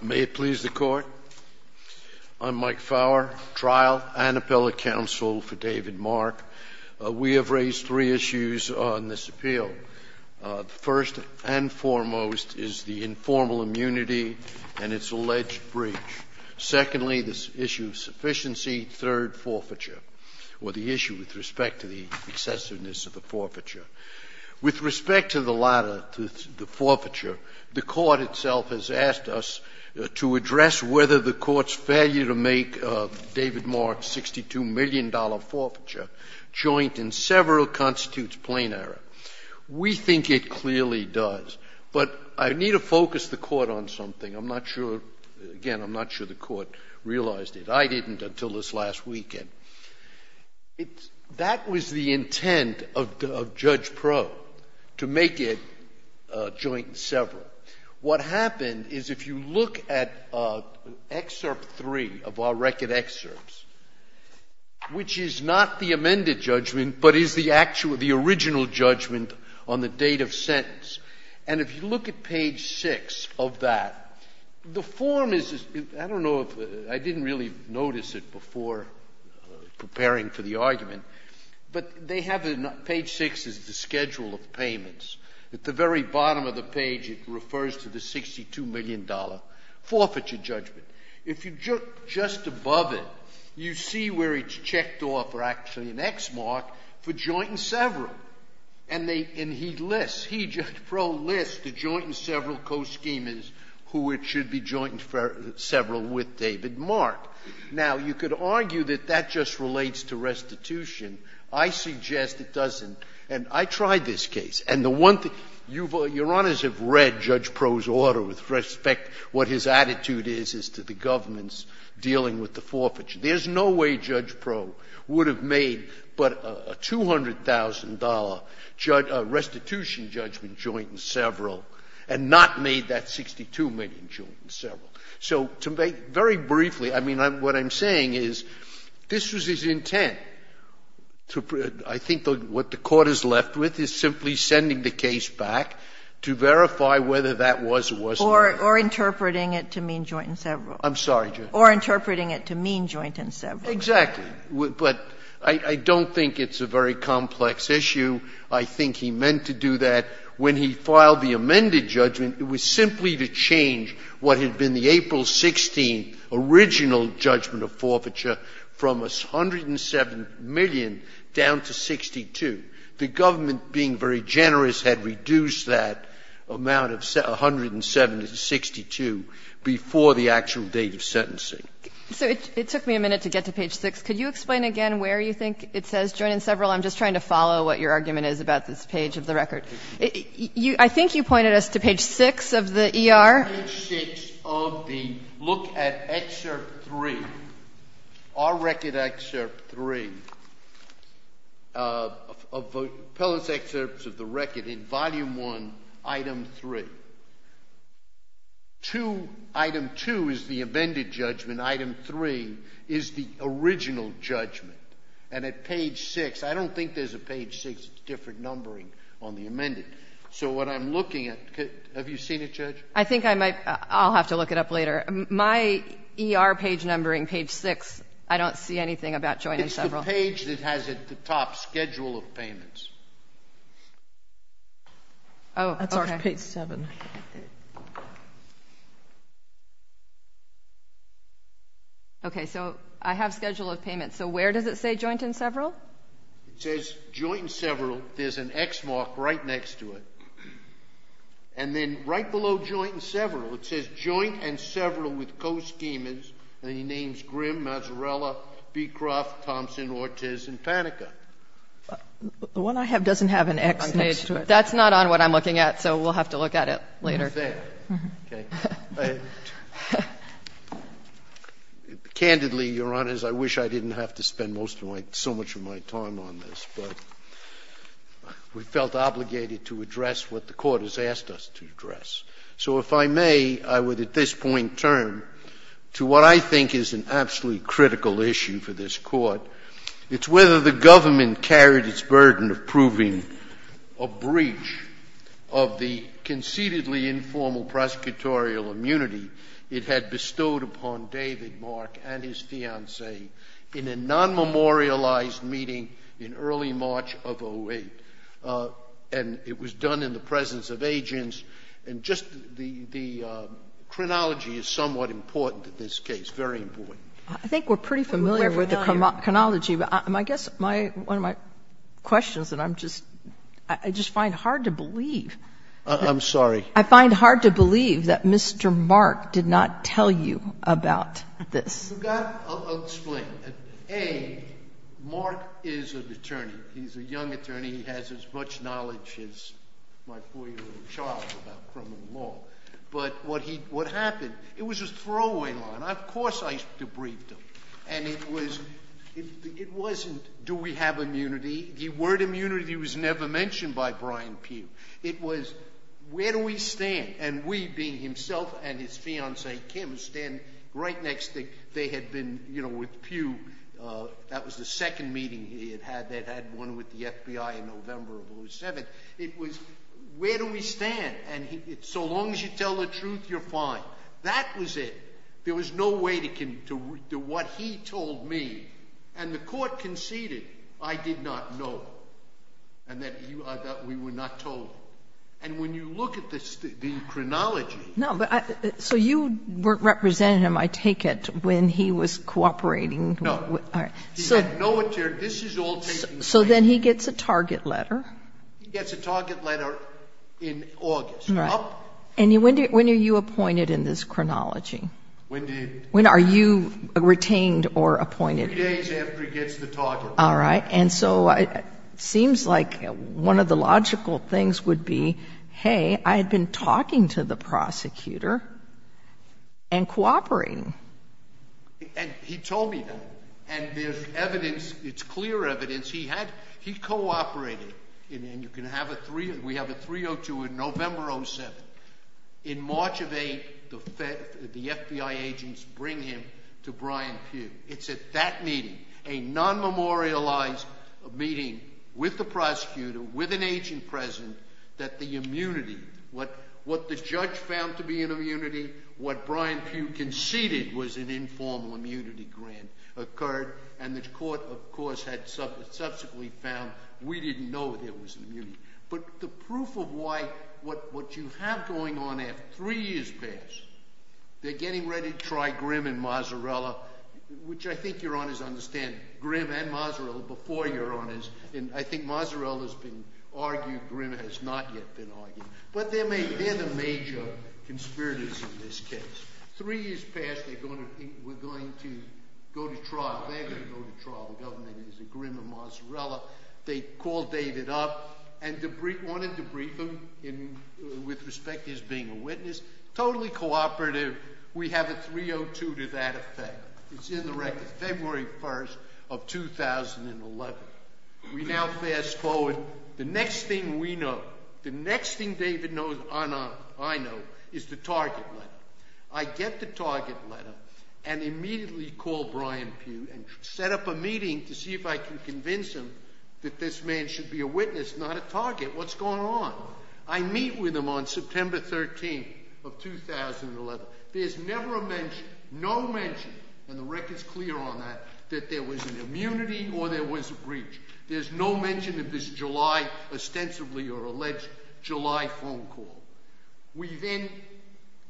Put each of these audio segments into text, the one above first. May it please the Court, I'm Mike Fowler, trial and appellate counsel for David Mark. We have raised three issues on this appeal. The first and foremost is the informal immunity and its alleged breach. Secondly, the issue of sufficiency. Third, forfeiture, or the issue with respect to the excessiveness of the forfeiture. With respect to the latter, to the forfeiture, the Court itself has asked us to address whether the Court's failure to make David Mark's $62 million forfeiture joint in several constitutes plain error. We think it clearly does. But I need to focus the Court on something. I'm not sure, again, I'm not sure the Court realized it. I didn't until this last weekend. That was the intent of Judge Proulx, to make it joint in several. What happened is if you look at Excerpt 3 of our record excerpts, which is not the amended judgment, but is the actual, the original judgment on the date of sentence, and if you look at page 6 of that, the form is, I don't know if, I didn't really notice it before preparing for the argument, but they have it on page 6 is the schedule of payments. At the very bottom of the page it refers to the $62 million forfeiture judgment. If you look just above it, you see where it's checked off, or actually an X mark, for joint in several. And they, and he lists, he, Judge Proulx, lists the joint in several co-schemas who it should be joint in several with David Mark. Now, you could argue that that just relates to restitution. I suggest it doesn't. And I tried this case. And the one thing, Your Honors have read Judge Proulx's order with respect, what his attitude is, is to the government's dealing with the forfeiture. There's no way Judge Proulx would have made but a $200,000 restitution judgment joint in several and not made that $62 million joint in several. So to make, very briefly, I mean, what I'm saying is this was his intent to, I think what the Court is left with is simply sending the case back to verify whether that was or wasn't. Or interpreting it to mean joint in several. I'm sorry, Judge. Or interpreting it to mean joint in several. Exactly. But I don't think it's a very complex issue. I think he meant to do that when he filed the amended judgment. It was simply to change what had been the April 16th original judgment of forfeiture from $107 million down to $62. The government, being very generous, had reduced that amount of $107 to $62 before the actual date of sentencing. So it took me a minute to get to page 6. Could you explain again where you think it says joint in several? I'm just trying to follow what your argument is about this page of the record. I think you pointed us to page 6 of the ER. Page 6 of the look at excerpt 3, our record excerpt 3, appellate's excerpts of the record in volume 1, item 3. Item 2 is the amended judgment. Item 3 is the original judgment. And at page 6, I don't think there's a page 6 different numbering on the amended. So what I'm looking at, have you seen it, Judge? I think I might. I'll have to look it up later. My ER page numbering, page 6, I don't see anything about joint in several. It's the page that has it at the top, schedule of payments. Oh, okay. That's our page 7. Okay, so I have schedule of payments. So where does it say joint in several? It says joint in several. There's an X mark right next to it. And then right below joint in several, it says joint in several with co-schemers. And he names Grimm, Mazarella, Beecroft, Thompson, Ortiz, and Panica. The one I have doesn't have an X next to it. That's not on what I'm looking at, so we'll have to look at it later. Okay. Candidly, Your Honors, I wish I didn't have to spend most of my, so much of my time on this. But we felt obligated to address what the Court has asked us to address. So if I may, I would at this point turn to what I think is an absolutely critical issue for this Court. It's whether the government carried its burden of proving a breach of the conceitedly informal prosecutorial immunity it had bestowed upon David Mark and his fiancee in a non-memorialized meeting in early March of 08. And it was done in the presence of agents. And just the chronology is somewhat important in this case, very important. I think we're pretty familiar with the chronology, but I guess my, one of my questions that I'm just, I just find hard to believe. I'm sorry. I find hard to believe that Mr. Mark did not tell you about this. You've got, I'll explain. A, Mark is an attorney. He's a young attorney. He has as much knowledge as my 4-year-old child about criminal law. But what he, what happened, it was a throwaway line. Of course I debriefed him. And it was, it wasn't, do we have immunity? The word immunity was never mentioned by Brian Pugh. It was, where do we stand? And we being himself and his fiancee Kim stand right next to, they had been, you know, with Pugh. That was the second meeting he had had. They'd had one with the FBI in November of 07. It was, where do we stand? And so long as you tell the truth, you're fine. That was it. There was no way to, to what he told me. And the court conceded I did not know. And that you, that we were not told. And when you look at the chronology. No, but I, so you weren't representing him, I take it, when he was cooperating. No. All right. He had no attorney. This is all taking place. So then he gets a target letter. He gets a target letter in August. Right. And when do, when are you appointed in this chronology? When do you. When are you retained or appointed? Three days after he gets the target letter. All right. And so it seems like one of the logical things would be, hey, I had been talking to the prosecutor and cooperating. And he told me that. And there's evidence, it's clear evidence, he had, he cooperated. And you can have a three, we have a 302 in November 07. In March of 8, the FBI agents bring him to Brian Pugh. It's at that meeting, a non-memorialized meeting with the prosecutor, with an agent present, that the immunity, what the judge found to be an immunity, what Brian Pugh conceded was an informal immunity grant, occurred. And the court, of course, had subsequently found we didn't know there was immunity. But the proof of why, what you have going on at three years past, they're getting ready to try Grimm and Mazzarella, which I think your honors understand, Grimm and Mazzarella before your honors. And I think Mazzarella's been argued, Grimm has not yet been argued. But they're the major conspirators in this case. Three years past, we're going to go to trial. They're going to go to trial. The government is a Grimm and Mazzarella. They called David up and wanted to brief him with respect to his being a witness. Totally cooperative. We have a 302 to that effect. It's in the record. February 1 of 2011. We now fast forward. The next thing we know, the next thing David knows, I know, is the target letter. I get the target letter and immediately call Brian Pugh and set up a meeting to see if I can convince him that this man should be a witness, not a target. What's going on? I meet with him on September 13 of 2011. There's never a mention, no mention, and the record's clear on that, that there was an immunity or there was a breach. There's no mention of this July, ostensibly or alleged, July phone call.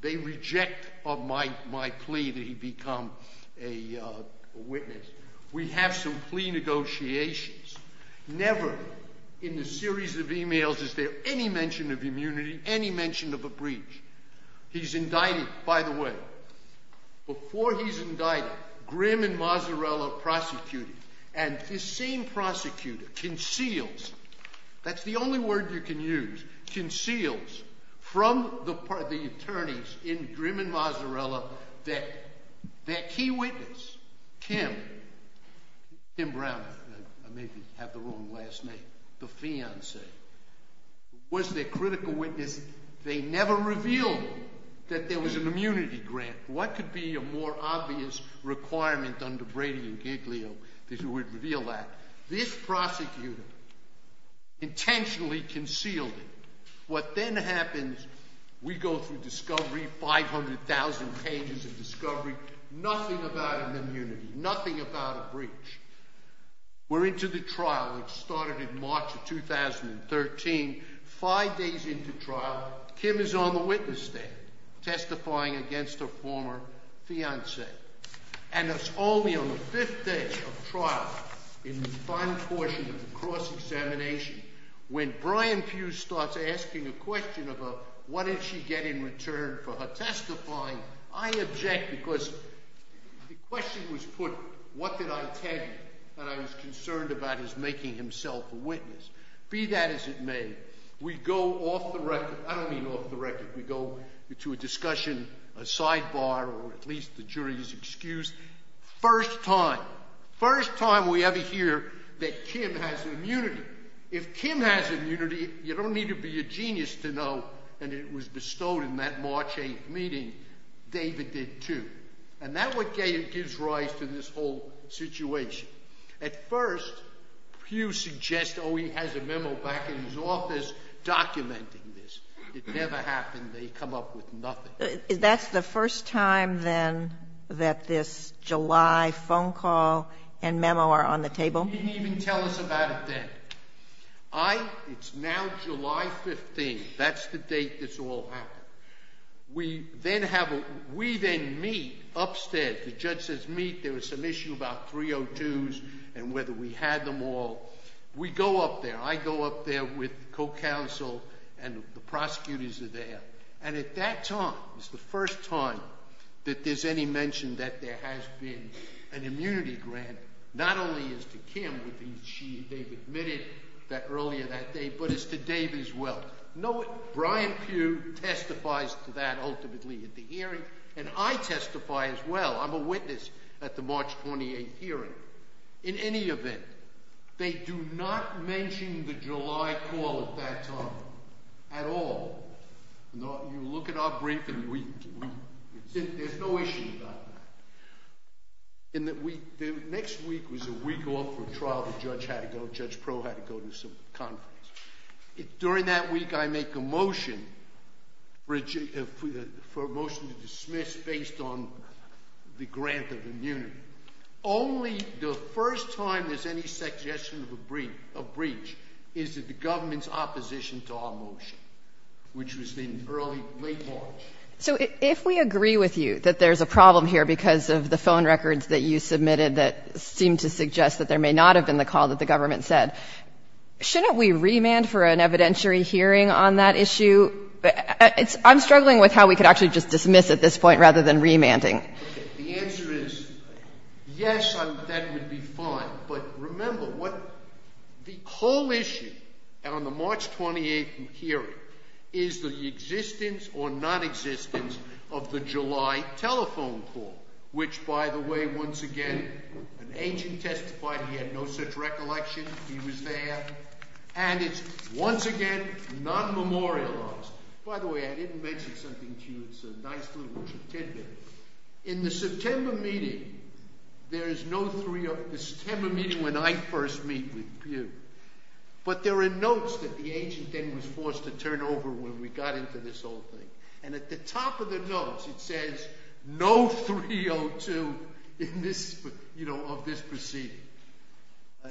They reject my plea that he become a witness. We have some plea negotiations. Never in the series of emails is there any mention of immunity, any mention of a breach. He's indicted, by the way. Before he's indicted, Grimm and Mazzarella are prosecuted. And this same prosecutor conceals, that's the only word you can use, conceals from the attorneys in Grimm and Mazzarella that their key witness, Kim, Kim Brown, I may have the wrong last name, the fiancee, was their critical witness. They never revealed that there was an immunity grant. What could be a more obvious requirement under Brady and Giglio that you would reveal that? This prosecutor intentionally concealed it. What then happens, we go through discovery, 500,000 pages of discovery, nothing about an immunity, nothing about a breach. We're into the trial. It started in March of 2013. Five days into trial, Kim is on the witness stand, testifying against her former fiance. And it's only on the fifth day of trial, in the final portion of the cross-examination, when Brian Hughes starts asking a question about what did she get in return for her testifying, I object. Because the question was put, what did I tell you that I was concerned about his making himself a witness? Be that as it may, we go off the record. I don't mean off the record. We go into a discussion, a sidebar, or at least the jury's excuse. First time, first time we ever hear that Kim has immunity. If Kim has immunity, you don't need to be a genius to know, and it was bestowed in that March 8th meeting, David did too. And that's what gives rise to this whole situation. At first, Hughes suggests, oh, he has a memo back in his office documenting this. It never happened. They come up with nothing. That's the first time, then, that this July phone call and memo are on the table? He didn't even tell us about it then. It's now July 15th. That's the date this all happened. We then meet upstairs. The judge says meet. There was some issue about 302s and whether we had them all. We go up there. I go up there with co-counsel, and the prosecutors are there. And at that time, it's the first time that there's any mention that there has been an immunity grant, not only as to Kim, which they admitted earlier that day, but as to David as well. Brian Pugh testifies to that ultimately at the hearing, and I testify as well. I'm a witness at the March 28th hearing. In any event, they do not mention the July call at that time at all. You look at our briefing. There's no issue about that. The next week was a week off for trial. The judge had to go. Judge Pro had to go to some conference. During that week, I make a motion for a motion to dismiss based on the grant of immunity. Only the first time there's any suggestion of a breach is that the government's opposition to our motion, which was in early, late March. So if we agree with you that there's a problem here because of the phone records that you submitted that seem to suggest that there may not have been the call that the government said, shouldn't we remand for an evidentiary hearing on that issue? I'm struggling with how we could actually just dismiss at this point rather than remanding. The answer is yes, that would be fine. But remember, the whole issue on the March 28th hearing is the existence or nonexistence of the July telephone call, which, by the way, once again, an agent testified he had no such recollection. He was there. And it's once again nonmemorialized. By the way, I didn't mention something to you. It's a nice little tidbit. In the September meeting, there is no 302. The September meeting when I first meet with you. But there are notes that the agent then was forced to turn over when we got into this whole thing. And at the top of the notes, it says no 302 of this proceeding.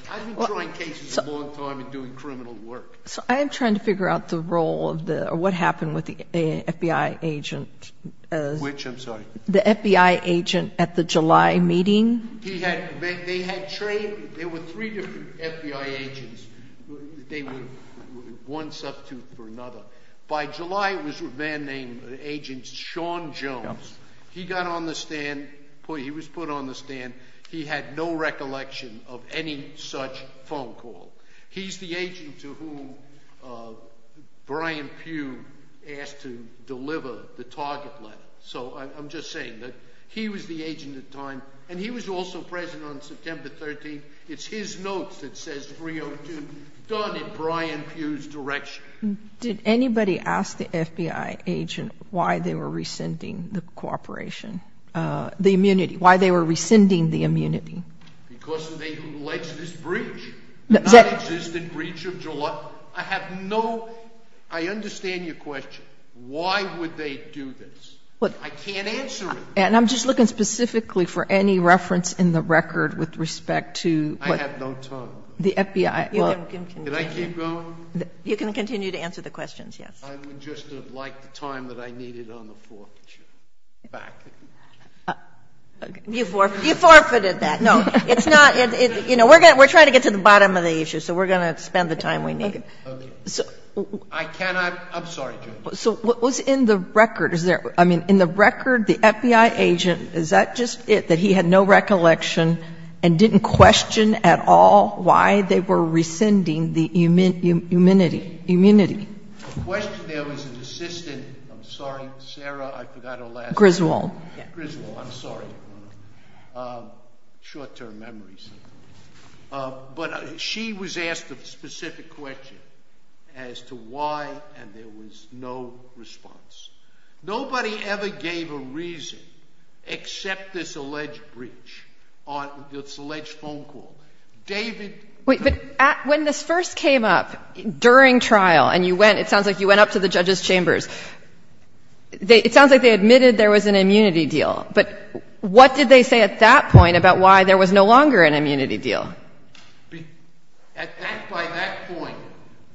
I've been trying cases a long time and doing criminal work. So I am trying to figure out the role of the or what happened with the FBI agent. Which, I'm sorry? The FBI agent at the July meeting. He had, they had trained, there were three different FBI agents. They were one substitute for another. By July, it was a man named Agent Sean Jones. He got on the stand, he was put on the stand. He had no recollection of any such phone call. He's the agent to whom Brian Pugh asked to deliver the target letter. So I'm just saying that he was the agent at the time. And he was also present on September 13th. It's his notes that says 302 done in Brian Pugh's direction. Did anybody ask the FBI agent why they were rescinding the cooperation, the immunity? Why they were rescinding the immunity? Because of the alleged breach. The non-existent breach of July. I have no, I understand your question. Why would they do this? I can't answer it. And I'm just looking specifically for any reference in the record with respect to. I have no time. The FBI. Can I keep going? You can continue to answer the questions, yes. I would just have liked the time that I needed on the forfeiture. Back. You forfeited that. No, it's not. You know, we're trying to get to the bottom of the issue. So we're going to spend the time we need. I cannot. I'm sorry, Judge. So what was in the record? I mean, in the record, the FBI agent, is that just it, that he had no recollection and didn't question at all why they were rescinding the immunity? The question there was an assistant. I'm sorry, Sarah, I forgot her last name. Griswold. Griswold, I'm sorry. Short-term memories. But she was asked a specific question as to why, and there was no response. Nobody ever gave a reason except this alleged breach, this alleged phone call. David. Wait, but when this first came up during trial, and you went, it sounds like you went up to the judges' chambers, it sounds like they admitted there was an immunity deal. But what did they say at that point about why there was no longer an immunity deal? At that point,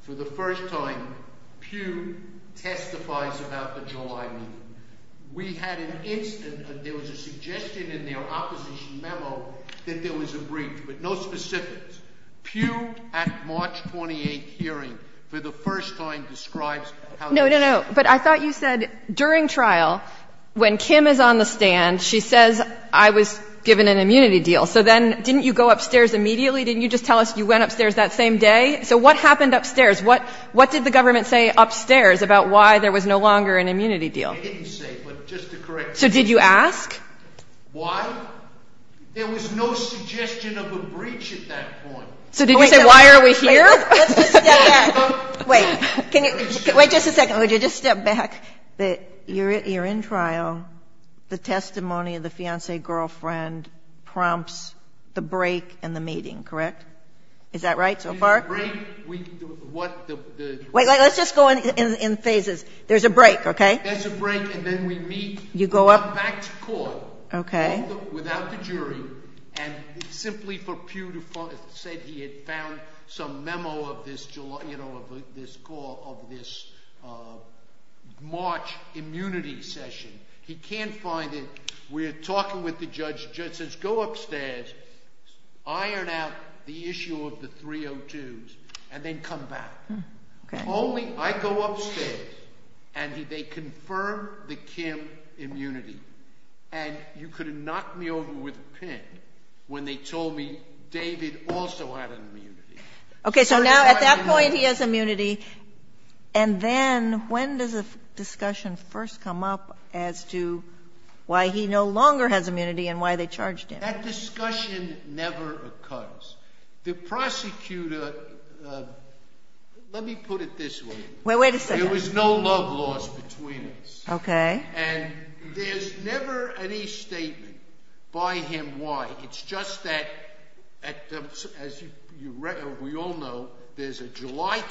for the first time, Pew testifies about the July meeting. We had an incident that there was a suggestion in their opposition memo that there was a breach, but no specifics. Pew, at March 28th hearing, for the first time, describes how this happened. No, no, no. But I thought you said during trial, when Kim is on the stand, she says, I was given an immunity deal. So then didn't you go upstairs immediately? Didn't you just tell us you went upstairs that same day? So what happened upstairs? What did the government say upstairs about why there was no longer an immunity deal? They didn't say, but just to correct you. So did you ask? Why? There was no suggestion of a breach at that point. So did you say, why are we here? Let's just step back. Wait. Wait just a second. Would you just step back? You're in trial. The testimony of the fiancee-girlfriend prompts the break in the meeting, correct? Is that right so far? Wait, let's just go in phases. There's a break, okay? There's a break, and then we meet. You go up. We come back to court. Okay. He went without the jury, and simply said he had found some memo of this March immunity session. He can't find it. We're talking with the judge. The judge says, go upstairs, iron out the issue of the 302s, and then come back. Okay. Only I go upstairs, and they confirm the Kim immunity. And you could have knocked me over with a pin when they told me David also had an immunity. Okay, so now at that point he has immunity. And then when does the discussion first come up as to why he no longer has immunity and why they charged him? That discussion never occurs. The prosecutor, let me put it this way. Wait a second. There was no love lost between us. Okay. And there's never any statement by him why. It's just that, as we all know, there's a July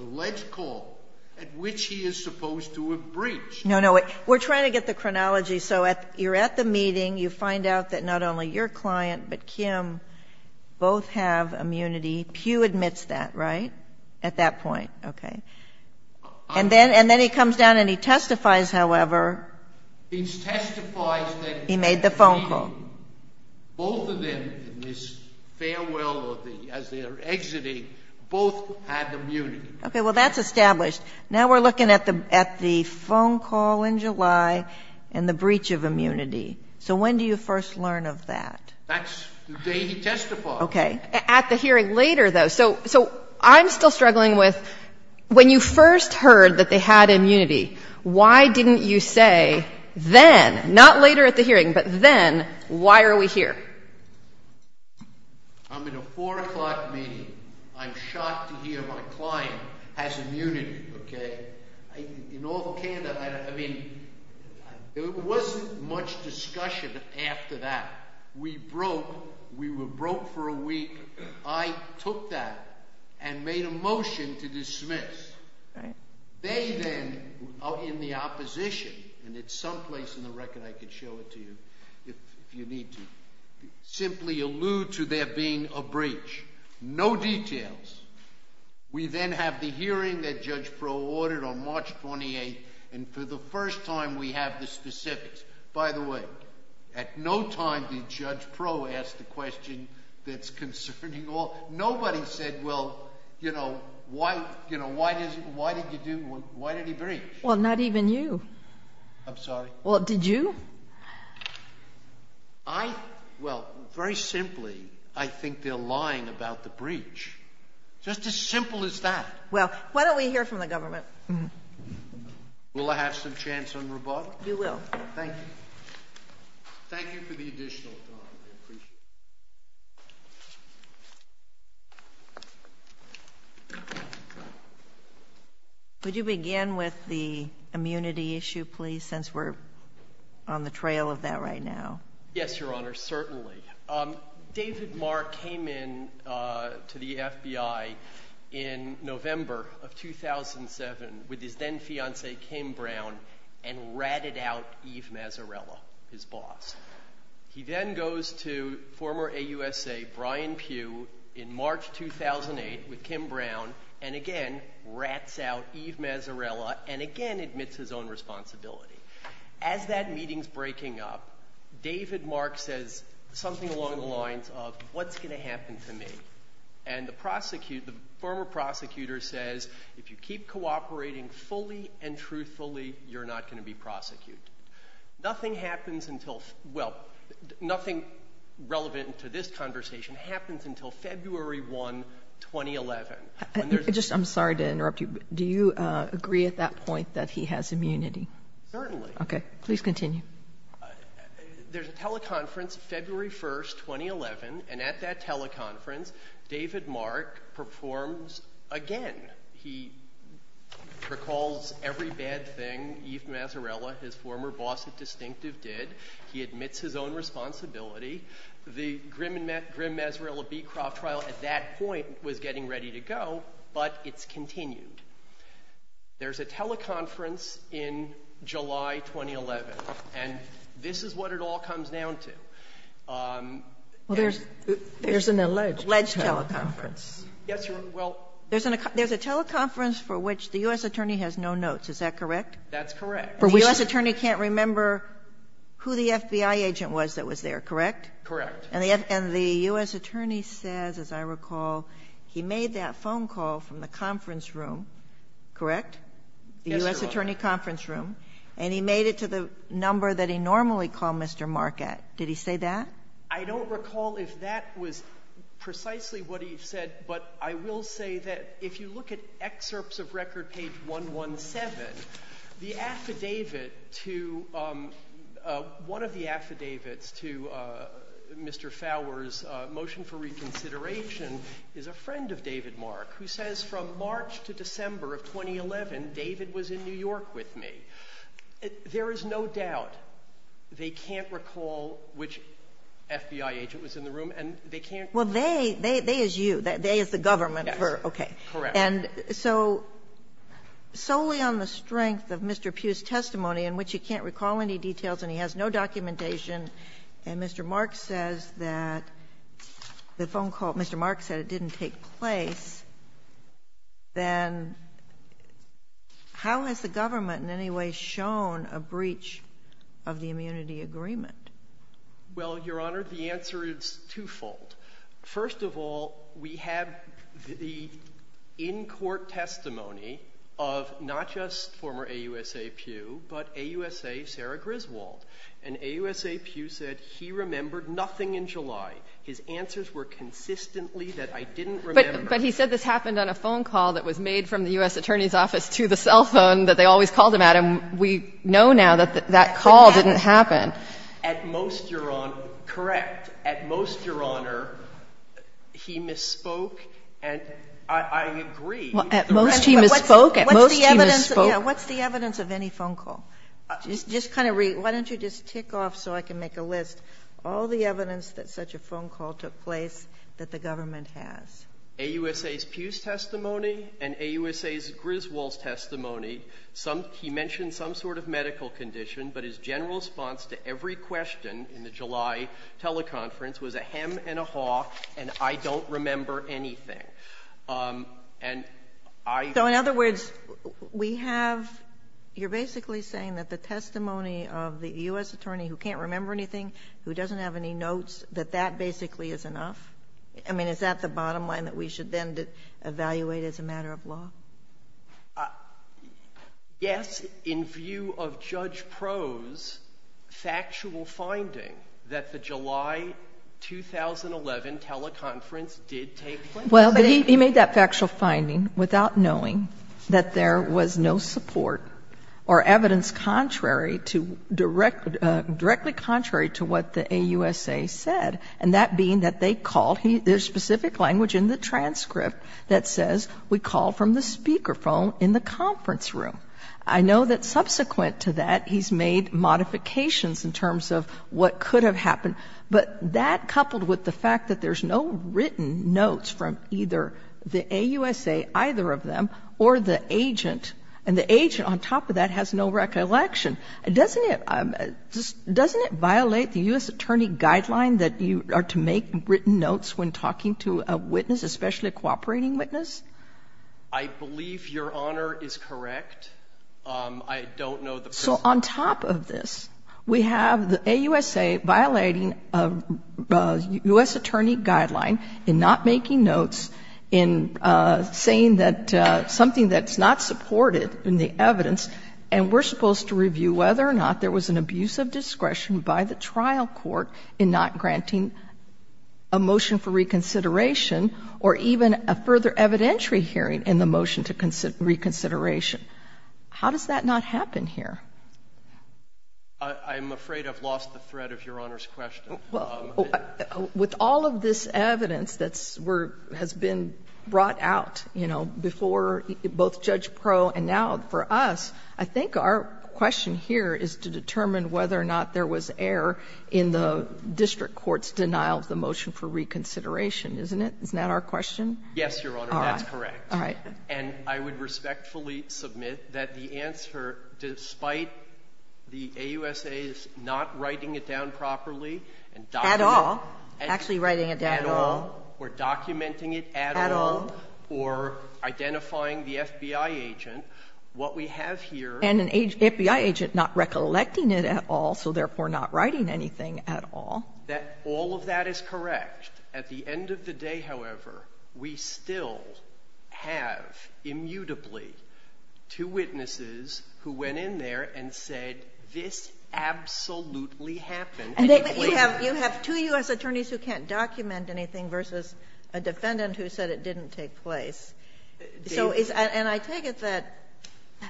alleged call at which he is supposed to have breached. No, no. We're trying to get the chronology. So you're at the meeting. You find out that not only your client but Kim both have immunity. Pew admits that, right, at that point? Okay. And then he comes down and he testifies, however. He testifies that he made the phone call. Both of them in this farewell or as they're exiting, both had immunity. Okay. Well, that's established. Now we're looking at the phone call in July and the breach of immunity. So when do you first learn of that? That's the day he testified. Okay. At the hearing later, though. So I'm still struggling with when you first heard that they had immunity, why didn't you say then, not later at the hearing, but then, why are we here? I'm in a 4 o'clock meeting. I'm shocked to hear my client has immunity. Okay. In all the candor, I mean, there wasn't much discussion after that. We broke. We were broke for a week. I took that and made a motion to dismiss. Okay. They then, in the opposition, and it's someplace in the record I could show it to you if you need to, simply allude to there being a breach. No details. We then have the hearing that Judge Proulx ordered on March 28th, and for the first time we have the specifics. By the way, at no time did Judge Proulx ask the question that's concerning all. Nobody said, well, you know, why did he breach? Well, not even you. I'm sorry? Well, did you? I, well, very simply, I think they're lying about the breach. Just as simple as that. Well, why don't we hear from the government? Will I have some chance on rebuttal? You will. Thank you. Thank you for the additional time. I appreciate it. Could you begin with the immunity issue, please, since we're on the trail of that right now? Yes, Your Honor, certainly. David Mark came in to the FBI in November of 2007 with his then-fiancee, Kim Brown, and ratted out Eve Mazzarella, his boss. He then goes to former AUSA Brian Pugh in March 2008 with Kim Brown, and again rats out Eve Mazzarella and again admits his own responsibility. As that meeting's breaking up, David Mark says something along the lines of, what's going to happen to me? And the former prosecutor says, if you keep cooperating fully and truthfully, you're not going to be prosecuted. Nothing happens until, well, nothing relevant to this conversation happens until February 1, 2011. I'm sorry to interrupt you, but do you agree at that point that he has immunity? Certainly. Okay. Please continue. There's a teleconference February 1, 2011, and at that teleconference David Mark performs again. He recalls every bad thing Eve Mazzarella, his former boss at Distinctive, did. He admits his own responsibility. The Grimm-Mazzarella-Beecroft trial at that point was getting ready to go, but it's continued. There's a teleconference in July 2011, and this is what it all comes down to. Well, there's an alleged teleconference. Alleged teleconference. Yes, Your Honor. Well. There's a teleconference for which the U.S. attorney has no notes, is that correct? That's correct. The U.S. attorney can't remember who the FBI agent was that was there, correct? Correct. And the U.S. attorney says, as I recall, he made that phone call from the conference room, correct? Yes, Your Honor. The U.S. attorney conference room, and he made it to the number that he normally called Mr. Marquette. Did he say that? I don't recall if that was precisely what he said, but I will say that if you look at excerpts of record page 117, the affidavit to one of the affidavits to Mr. Fowler's motion for reconsideration is a friend of David Marquette, who says from March to December of 2011, David was in New York with me. There is no doubt they can't recall which FBI agent was in the room, and they can't. Well, they is you. They is the government. Yes. Okay. Correct. And so solely on the strength of Mr. Pugh's testimony, in which he can't recall any details and he has no documentation, and Mr. Marquette says that the phone call, Mr. Marquette said it didn't take place, then how has the government in any way shown a breach of the immunity agreement? Well, Your Honor, the answer is twofold. First of all, we have the in-court testimony of not just former AUSA Pugh, but AUSA Sarah Griswold. And AUSA Pugh said he remembered nothing in July. His answers were consistently that I didn't remember. But he said this happened on a phone call that was made from the U.S. Attorney's office to the cell phone that they always called him at. And we know now that that call didn't happen. At most, Your Honor, correct, at most, Your Honor, he misspoke. And I agree. At most, he misspoke. At most, he misspoke. What's the evidence of any phone call? Just kind of read. Why don't you just tick off so I can make a list all the evidence that such a phone call took place that the government has? AUSA Pugh's testimony and AUSA Griswold's testimony, he mentioned some sort of medical condition, but his general response to every question in the July teleconference was a hem and a haw, and I don't remember anything. And I — So in other words, we have — you're basically saying that the testimony of the U.S. Attorney who can't remember anything, who doesn't have any notes, that that basically is enough? I mean, is that the bottom line that we should then evaluate as a matter of law? Yes, in view of Judge Proulx's factual finding that the July 2011 teleconference did take place. Well, but he made that factual finding without knowing that there was no support or evidence contrary to — directly contrary to what the AUSA said, and that being that they called — there's specific language in the transcript that says we call from the speakerphone in the conference room. I know that subsequent to that, he's made modifications in terms of what could have happened, but that coupled with the fact that there's no written notes from either the AUSA, either of them, or the agent, and the agent on top of that has no recollection, doesn't it — So on top of this, we have the AUSA violating a U.S. Attorney guideline in not making notes, in saying that — something that's not supported in the evidence, and we're supposed to review whether or not there was an abuse of discretion by the trial court in not granting a motion for reconsideration. Now, I'm afraid I've lost the thread of Your Honor's question. Well, with all of this evidence that's — has been brought out, you know, before both Judge Pro and now for us, I think our question here is to determine whether or not there was error in the district court's denial of the motion for reconsideration. Isn't it? Isn't that our question? Yes, Your Honor, that's correct. All right. And I would respectfully submit that the answer, despite the AUSA's not writing it down properly and documenting — At all. Actually writing it down at all. At all. Or documenting it at all. At all. Or identifying the FBI agent. What we have here — And an FBI agent not recollecting it at all, so therefore not writing anything at all. All of that is correct. At the end of the day, however, we still have, immutably, two witnesses who went in there and said, this absolutely happened. And you have two U.S. attorneys who can't document anything versus a defendant who said it didn't take place. And I take it that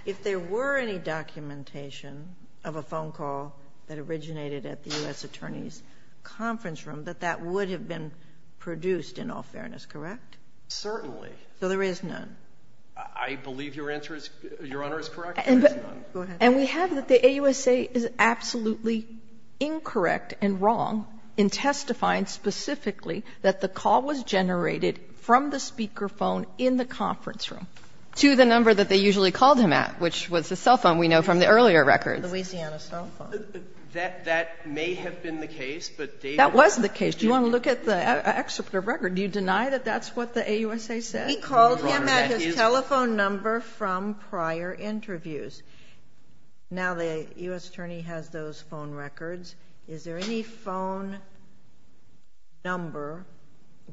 if there were any documentation of a phone call that originated at the U.S. attorney's conference room, that that would have been produced in all fairness, correct? Certainly. So there is none. I believe Your Honor is correct. There is none. Go ahead. And we have that the AUSA is absolutely incorrect and wrong in testifying specifically that the call was generated from the speaker phone in the conference room. To the number that they usually called him at, which was the cell phone we know from the earlier records. The Louisiana cell phone. That may have been the case. That was the case. Do you want to look at the excerpt of the record? Do you deny that that's what the AUSA said? He called him at his telephone number from prior interviews. Now the U.S. attorney has those phone records. Is there any phone number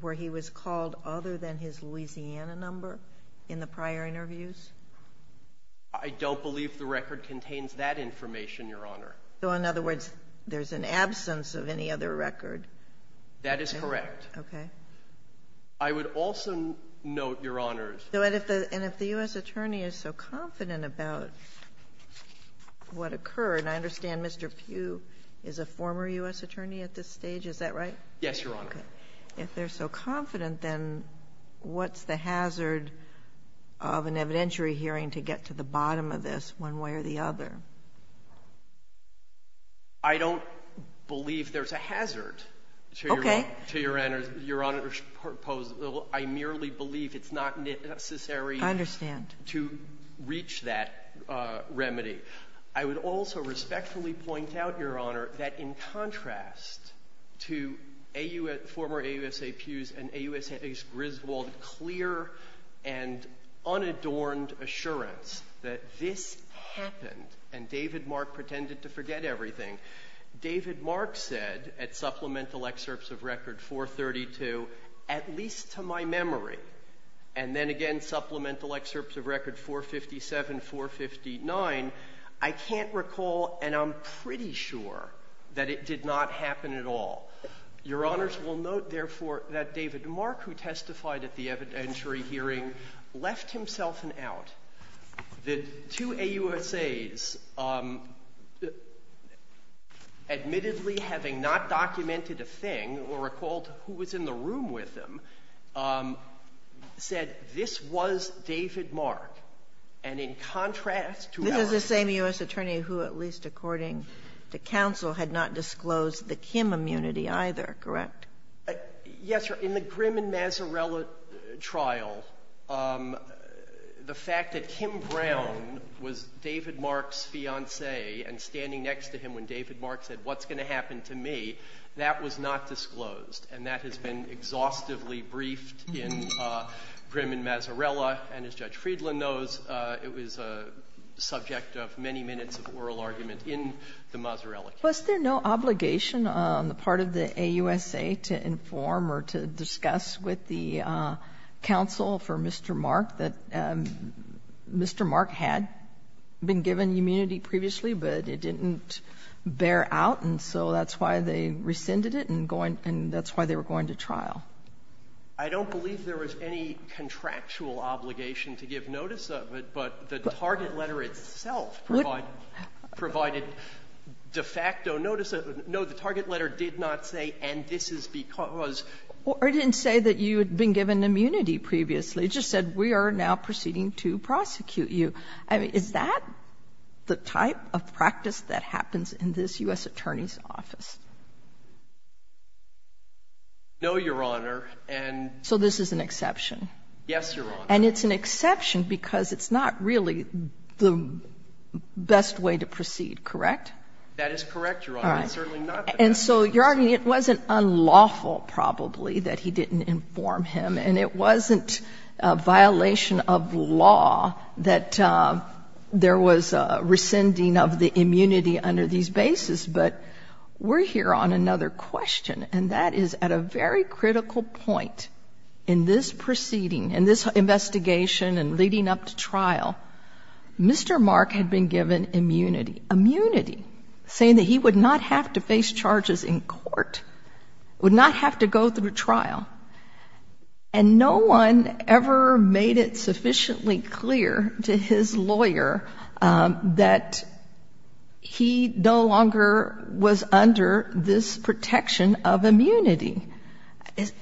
where he was called other than his Louisiana number in the prior interviews? I don't believe the record contains that information, Your Honor. So in other words, there's an absence of any other record. That is correct. Okay. I would also note, Your Honors. And if the U.S. attorney is so confident about what occurred, and I understand Mr. Pugh is a former U.S. attorney at this stage, is that right? Yes, Your Honor. Okay. If they're so confident, then what's the hazard of an evidentiary hearing to get to the bottom of this one way or the other? I don't believe there's a hazard to Your Honor's proposal. I merely believe it's not necessary to reach that remedy. I would also respectfully point out, Your Honor, that in contrast to former AUSA Pugh's and AUSA Griswold's clear and unadorned assurance that this happened and David Mark pretended to forget everything, David Mark said at supplemental excerpts of record 432, at least to my memory, and then again supplemental excerpts of record 457, 459, I can't recall and I'm pretty sure that it did not happen at all. Your Honors will note, therefore, that David Mark, who testified at the evidentiary hearing, left himself an out. The two AUSAs, admittedly having not documented a thing or recalled who was in the trial, the fact that Kim Brown was David Mark's fiancée and standing next to him when David Mark said, what's going to happen to me, that was not disclosed and that as Judge Friedland knows, it was a subject of many minutes of oral argument in the Mazzarelli case. Was there no obligation on the part of the AUSA to inform or to discuss with the counsel for Mr. Mark that Mr. Mark had been given immunity previously, but it didn't bear out and so that's why they rescinded it and that's why they were going to trial? I don't believe there was any contractual obligation to give notice of it, but the target letter itself provided de facto notice of it. No, the target letter did not say, and this is because. Or it didn't say that you had been given immunity previously. It just said, we are now proceeding to prosecute you. I mean, is that the type of practice that happens in this U.S. Attorney's Office? No, Your Honor, and. So this is an exception. Yes, Your Honor. And it's an exception because it's not really the best way to proceed, correct? That is correct, Your Honor. All right. It's certainly not the best. And so you're arguing it wasn't unlawful probably that he didn't inform him and it wasn't a violation of law that there was a rescinding of the immunity under these bases, but we're here on another question, and that is at a very critical point in this proceeding, in this investigation and leading up to trial, Mr. Mark had been given immunity. Immunity, saying that he would not have to face charges in court, would not have to go through trial, and no one ever made it sufficiently clear to his lawyer that he no longer was under this protection of immunity.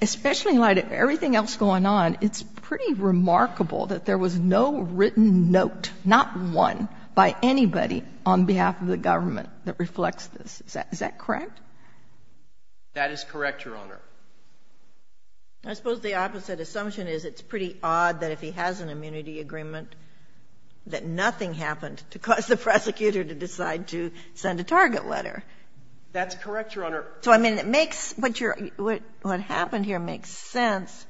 Especially in light of everything else going on, it's pretty remarkable that there was no written note, not one, by anybody on behalf of the government that reflects this. Is that correct? That is correct, Your Honor. I suppose the opposite assumption is it's pretty odd that if he has an immunity that nothing happened to cause the prosecutor to decide to send a target letter. That's correct, Your Honor. So, I mean, it makes what happened here makes sense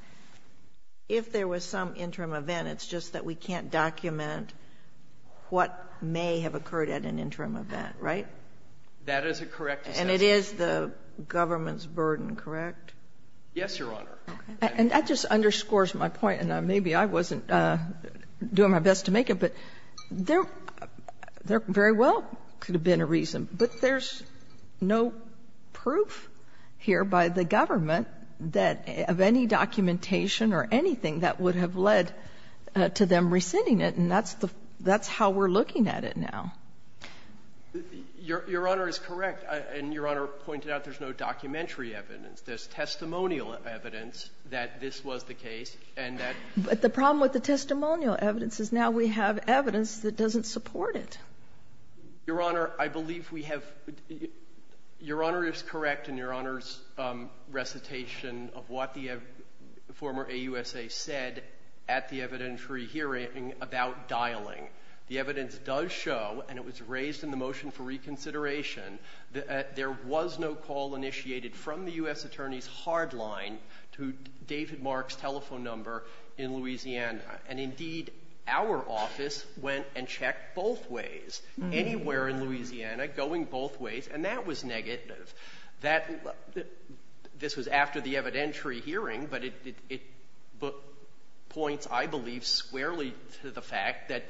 if there was some interim event. It's just that we can't document what may have occurred at an interim event, right? That is a correct assumption. And it is the government's burden, correct? Yes, Your Honor. And that just underscores my point, and maybe I wasn't doing my best to make it, but there very well could have been a reason. But there's no proof here by the government that of any documentation or anything that would have led to them rescinding it, and that's how we're looking at it now. Your Honor is correct. And Your Honor pointed out there's no documentary evidence. There's testimonial evidence that this was the case, and that ---- But the problem with the testimonial evidence is now we have evidence that doesn't support it. Your Honor, I believe we have ---- Your Honor is correct in Your Honor's recitation of what the former AUSA said at the evidentiary hearing about dialing. The evidence does show, and it was raised in the motion for reconsideration, that there was no call initiated from the U.S. Attorney's hard line to David Mark's telephone number in Louisiana. And, indeed, our office went and checked both ways, anywhere in Louisiana, going both ways, and that was negative. This was after the evidentiary hearing, but it points, I believe, squarely to the fact that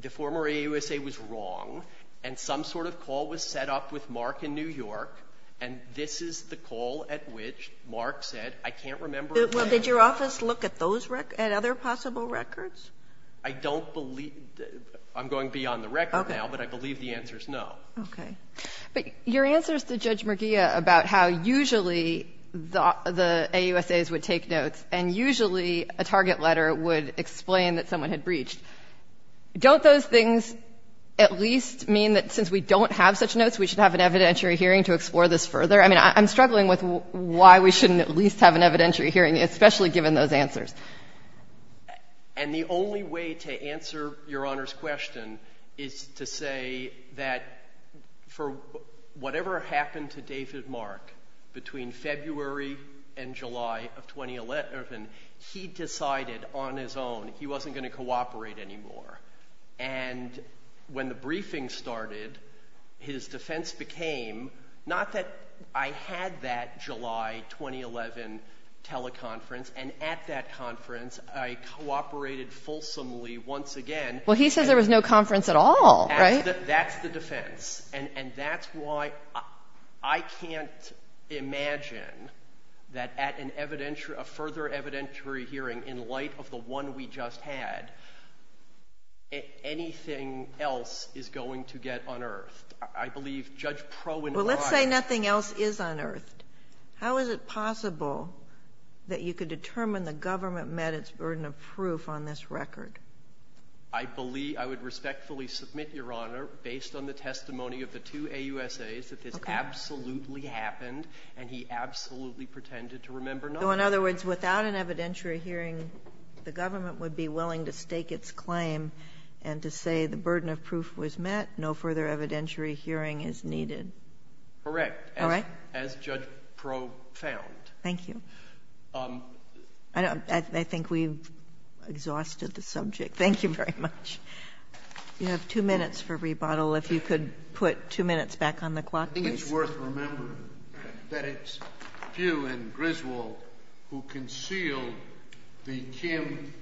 the former AUSA was wrong, and some sort of call was set up with Mark in New York, and this is the call at which Mark said, I can't remember a name. Well, did your office look at those records, at other possible records? I don't believe ---- I'm going beyond the record now, but I believe the answer is no. Okay. But your answer is to Judge Merguia about how usually the AUSAs would take notes, and usually a target letter would explain that someone had breached. Don't those things at least mean that since we don't have such notes, we should have an evidentiary hearing to explore this further? I mean, I'm struggling with why we shouldn't at least have an evidentiary hearing, especially given those answers. And the only way to answer Your Honor's question is to say that for whatever happened to David Mark between February and July of 2011, he decided on his own he wasn't going to cooperate anymore. And when the briefing started, his defense became not that I had that July 2011 teleconference, and at that conference I cooperated fulsomely once again. Well, he says there was no conference at all, right? That's the defense, and that's why I can't imagine that at a further evidentiary hearing in light of the one we just had, anything else is going to get unearthed. I believe Judge Pro and I ---- Well, let's say nothing else is unearthed. How is it possible that you could determine the government met its burden of proof on this record? I would respectfully submit, Your Honor, based on the testimony of the two AUSAs, that this absolutely happened, and he absolutely pretended to remember nothing. So in other words, without an evidentiary hearing, the government would be willing to stake its claim and to say the burden of proof was met, no further evidentiary hearing is needed. Correct, as Judge Pro found. Thank you. I think we've exhausted the subject. Thank you very much. You have two minutes for rebuttal. If you could put two minutes back on the clock, please. I think it's worth remembering that it's Pugh and Griswold who concealed the Kim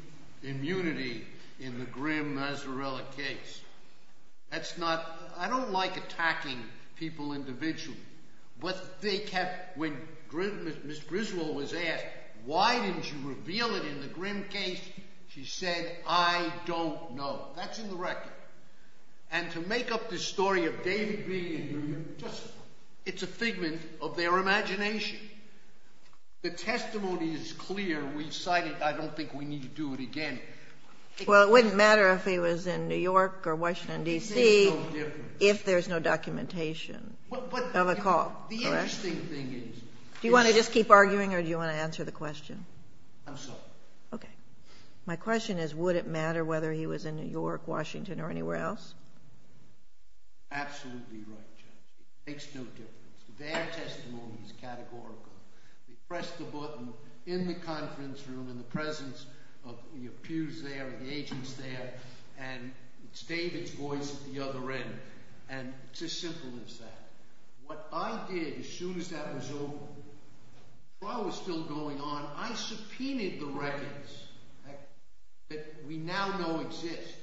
immunity in the Grimm-Mazzarella case. That's not ---- I don't like attacking people individually. But they kept, when Ms. Griswold was asked, why didn't you reveal it in the Grimm case, she said, I don't know. That's in the record. And to make up this story of David being in Grimm, it's a figment of their imagination. The testimony is clear. We've cited it. I don't think we need to do it again. Well, it wouldn't matter if he was in New York or Washington, D.C. It makes no difference. If there's no documentation of a call, correct? The interesting thing is ---- Do you want to just keep arguing or do you want to answer the question? I'm sorry. Okay. My question is, would it matter whether he was in New York, Washington, or anywhere else? Absolutely right, Judge. It makes no difference. Their testimony is categorical. You press the button in the conference room, in the presence of your peers there, the agents there, and it's David's voice at the other end. And it's as simple as that. What I did, as soon as that was over, while I was still going on, I subpoenaed the records that we now know exist.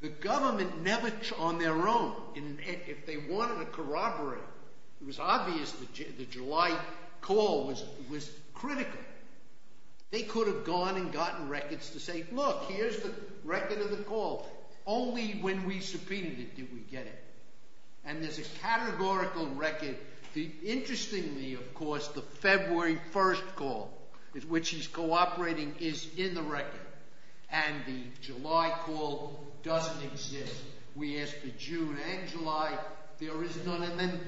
The government never, on their own, if they wanted to corroborate, it was obvious the July call was critical. They could have gone and gotten records to say, look, here's the record of the call. Only when we subpoenaed it did we get it. And there's a categorical record. Interestingly, of course, the February 1st call, which he's cooperating, is in the record. And the July call doesn't exist. We asked for June and July. There is none. And then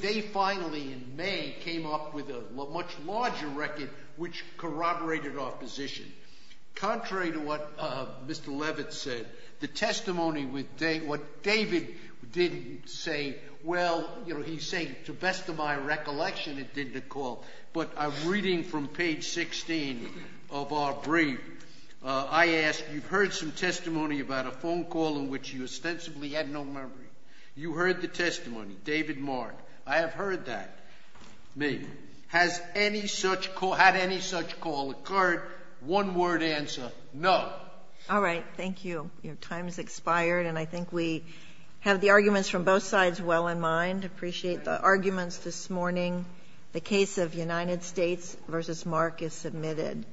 they finally, in May, came up with a much larger record, which corroborated our position. Contrary to what Mr. Levitt said, the testimony, what David did say, well, he's saying, to the best of my recollection, it did the call. But I'm reading from page 16 of our brief. I asked, you've heard some testimony about a phone call in which you ostensibly had no memory. You heard the testimony, David Mark. I have heard that. Me. Has any such call, had any such call occurred? One word answer, no. All right, thank you. Your time has expired, and I think we have the arguments from both sides well in mind. Appreciate the arguments this morning. The case of United States v. Mark is submitted.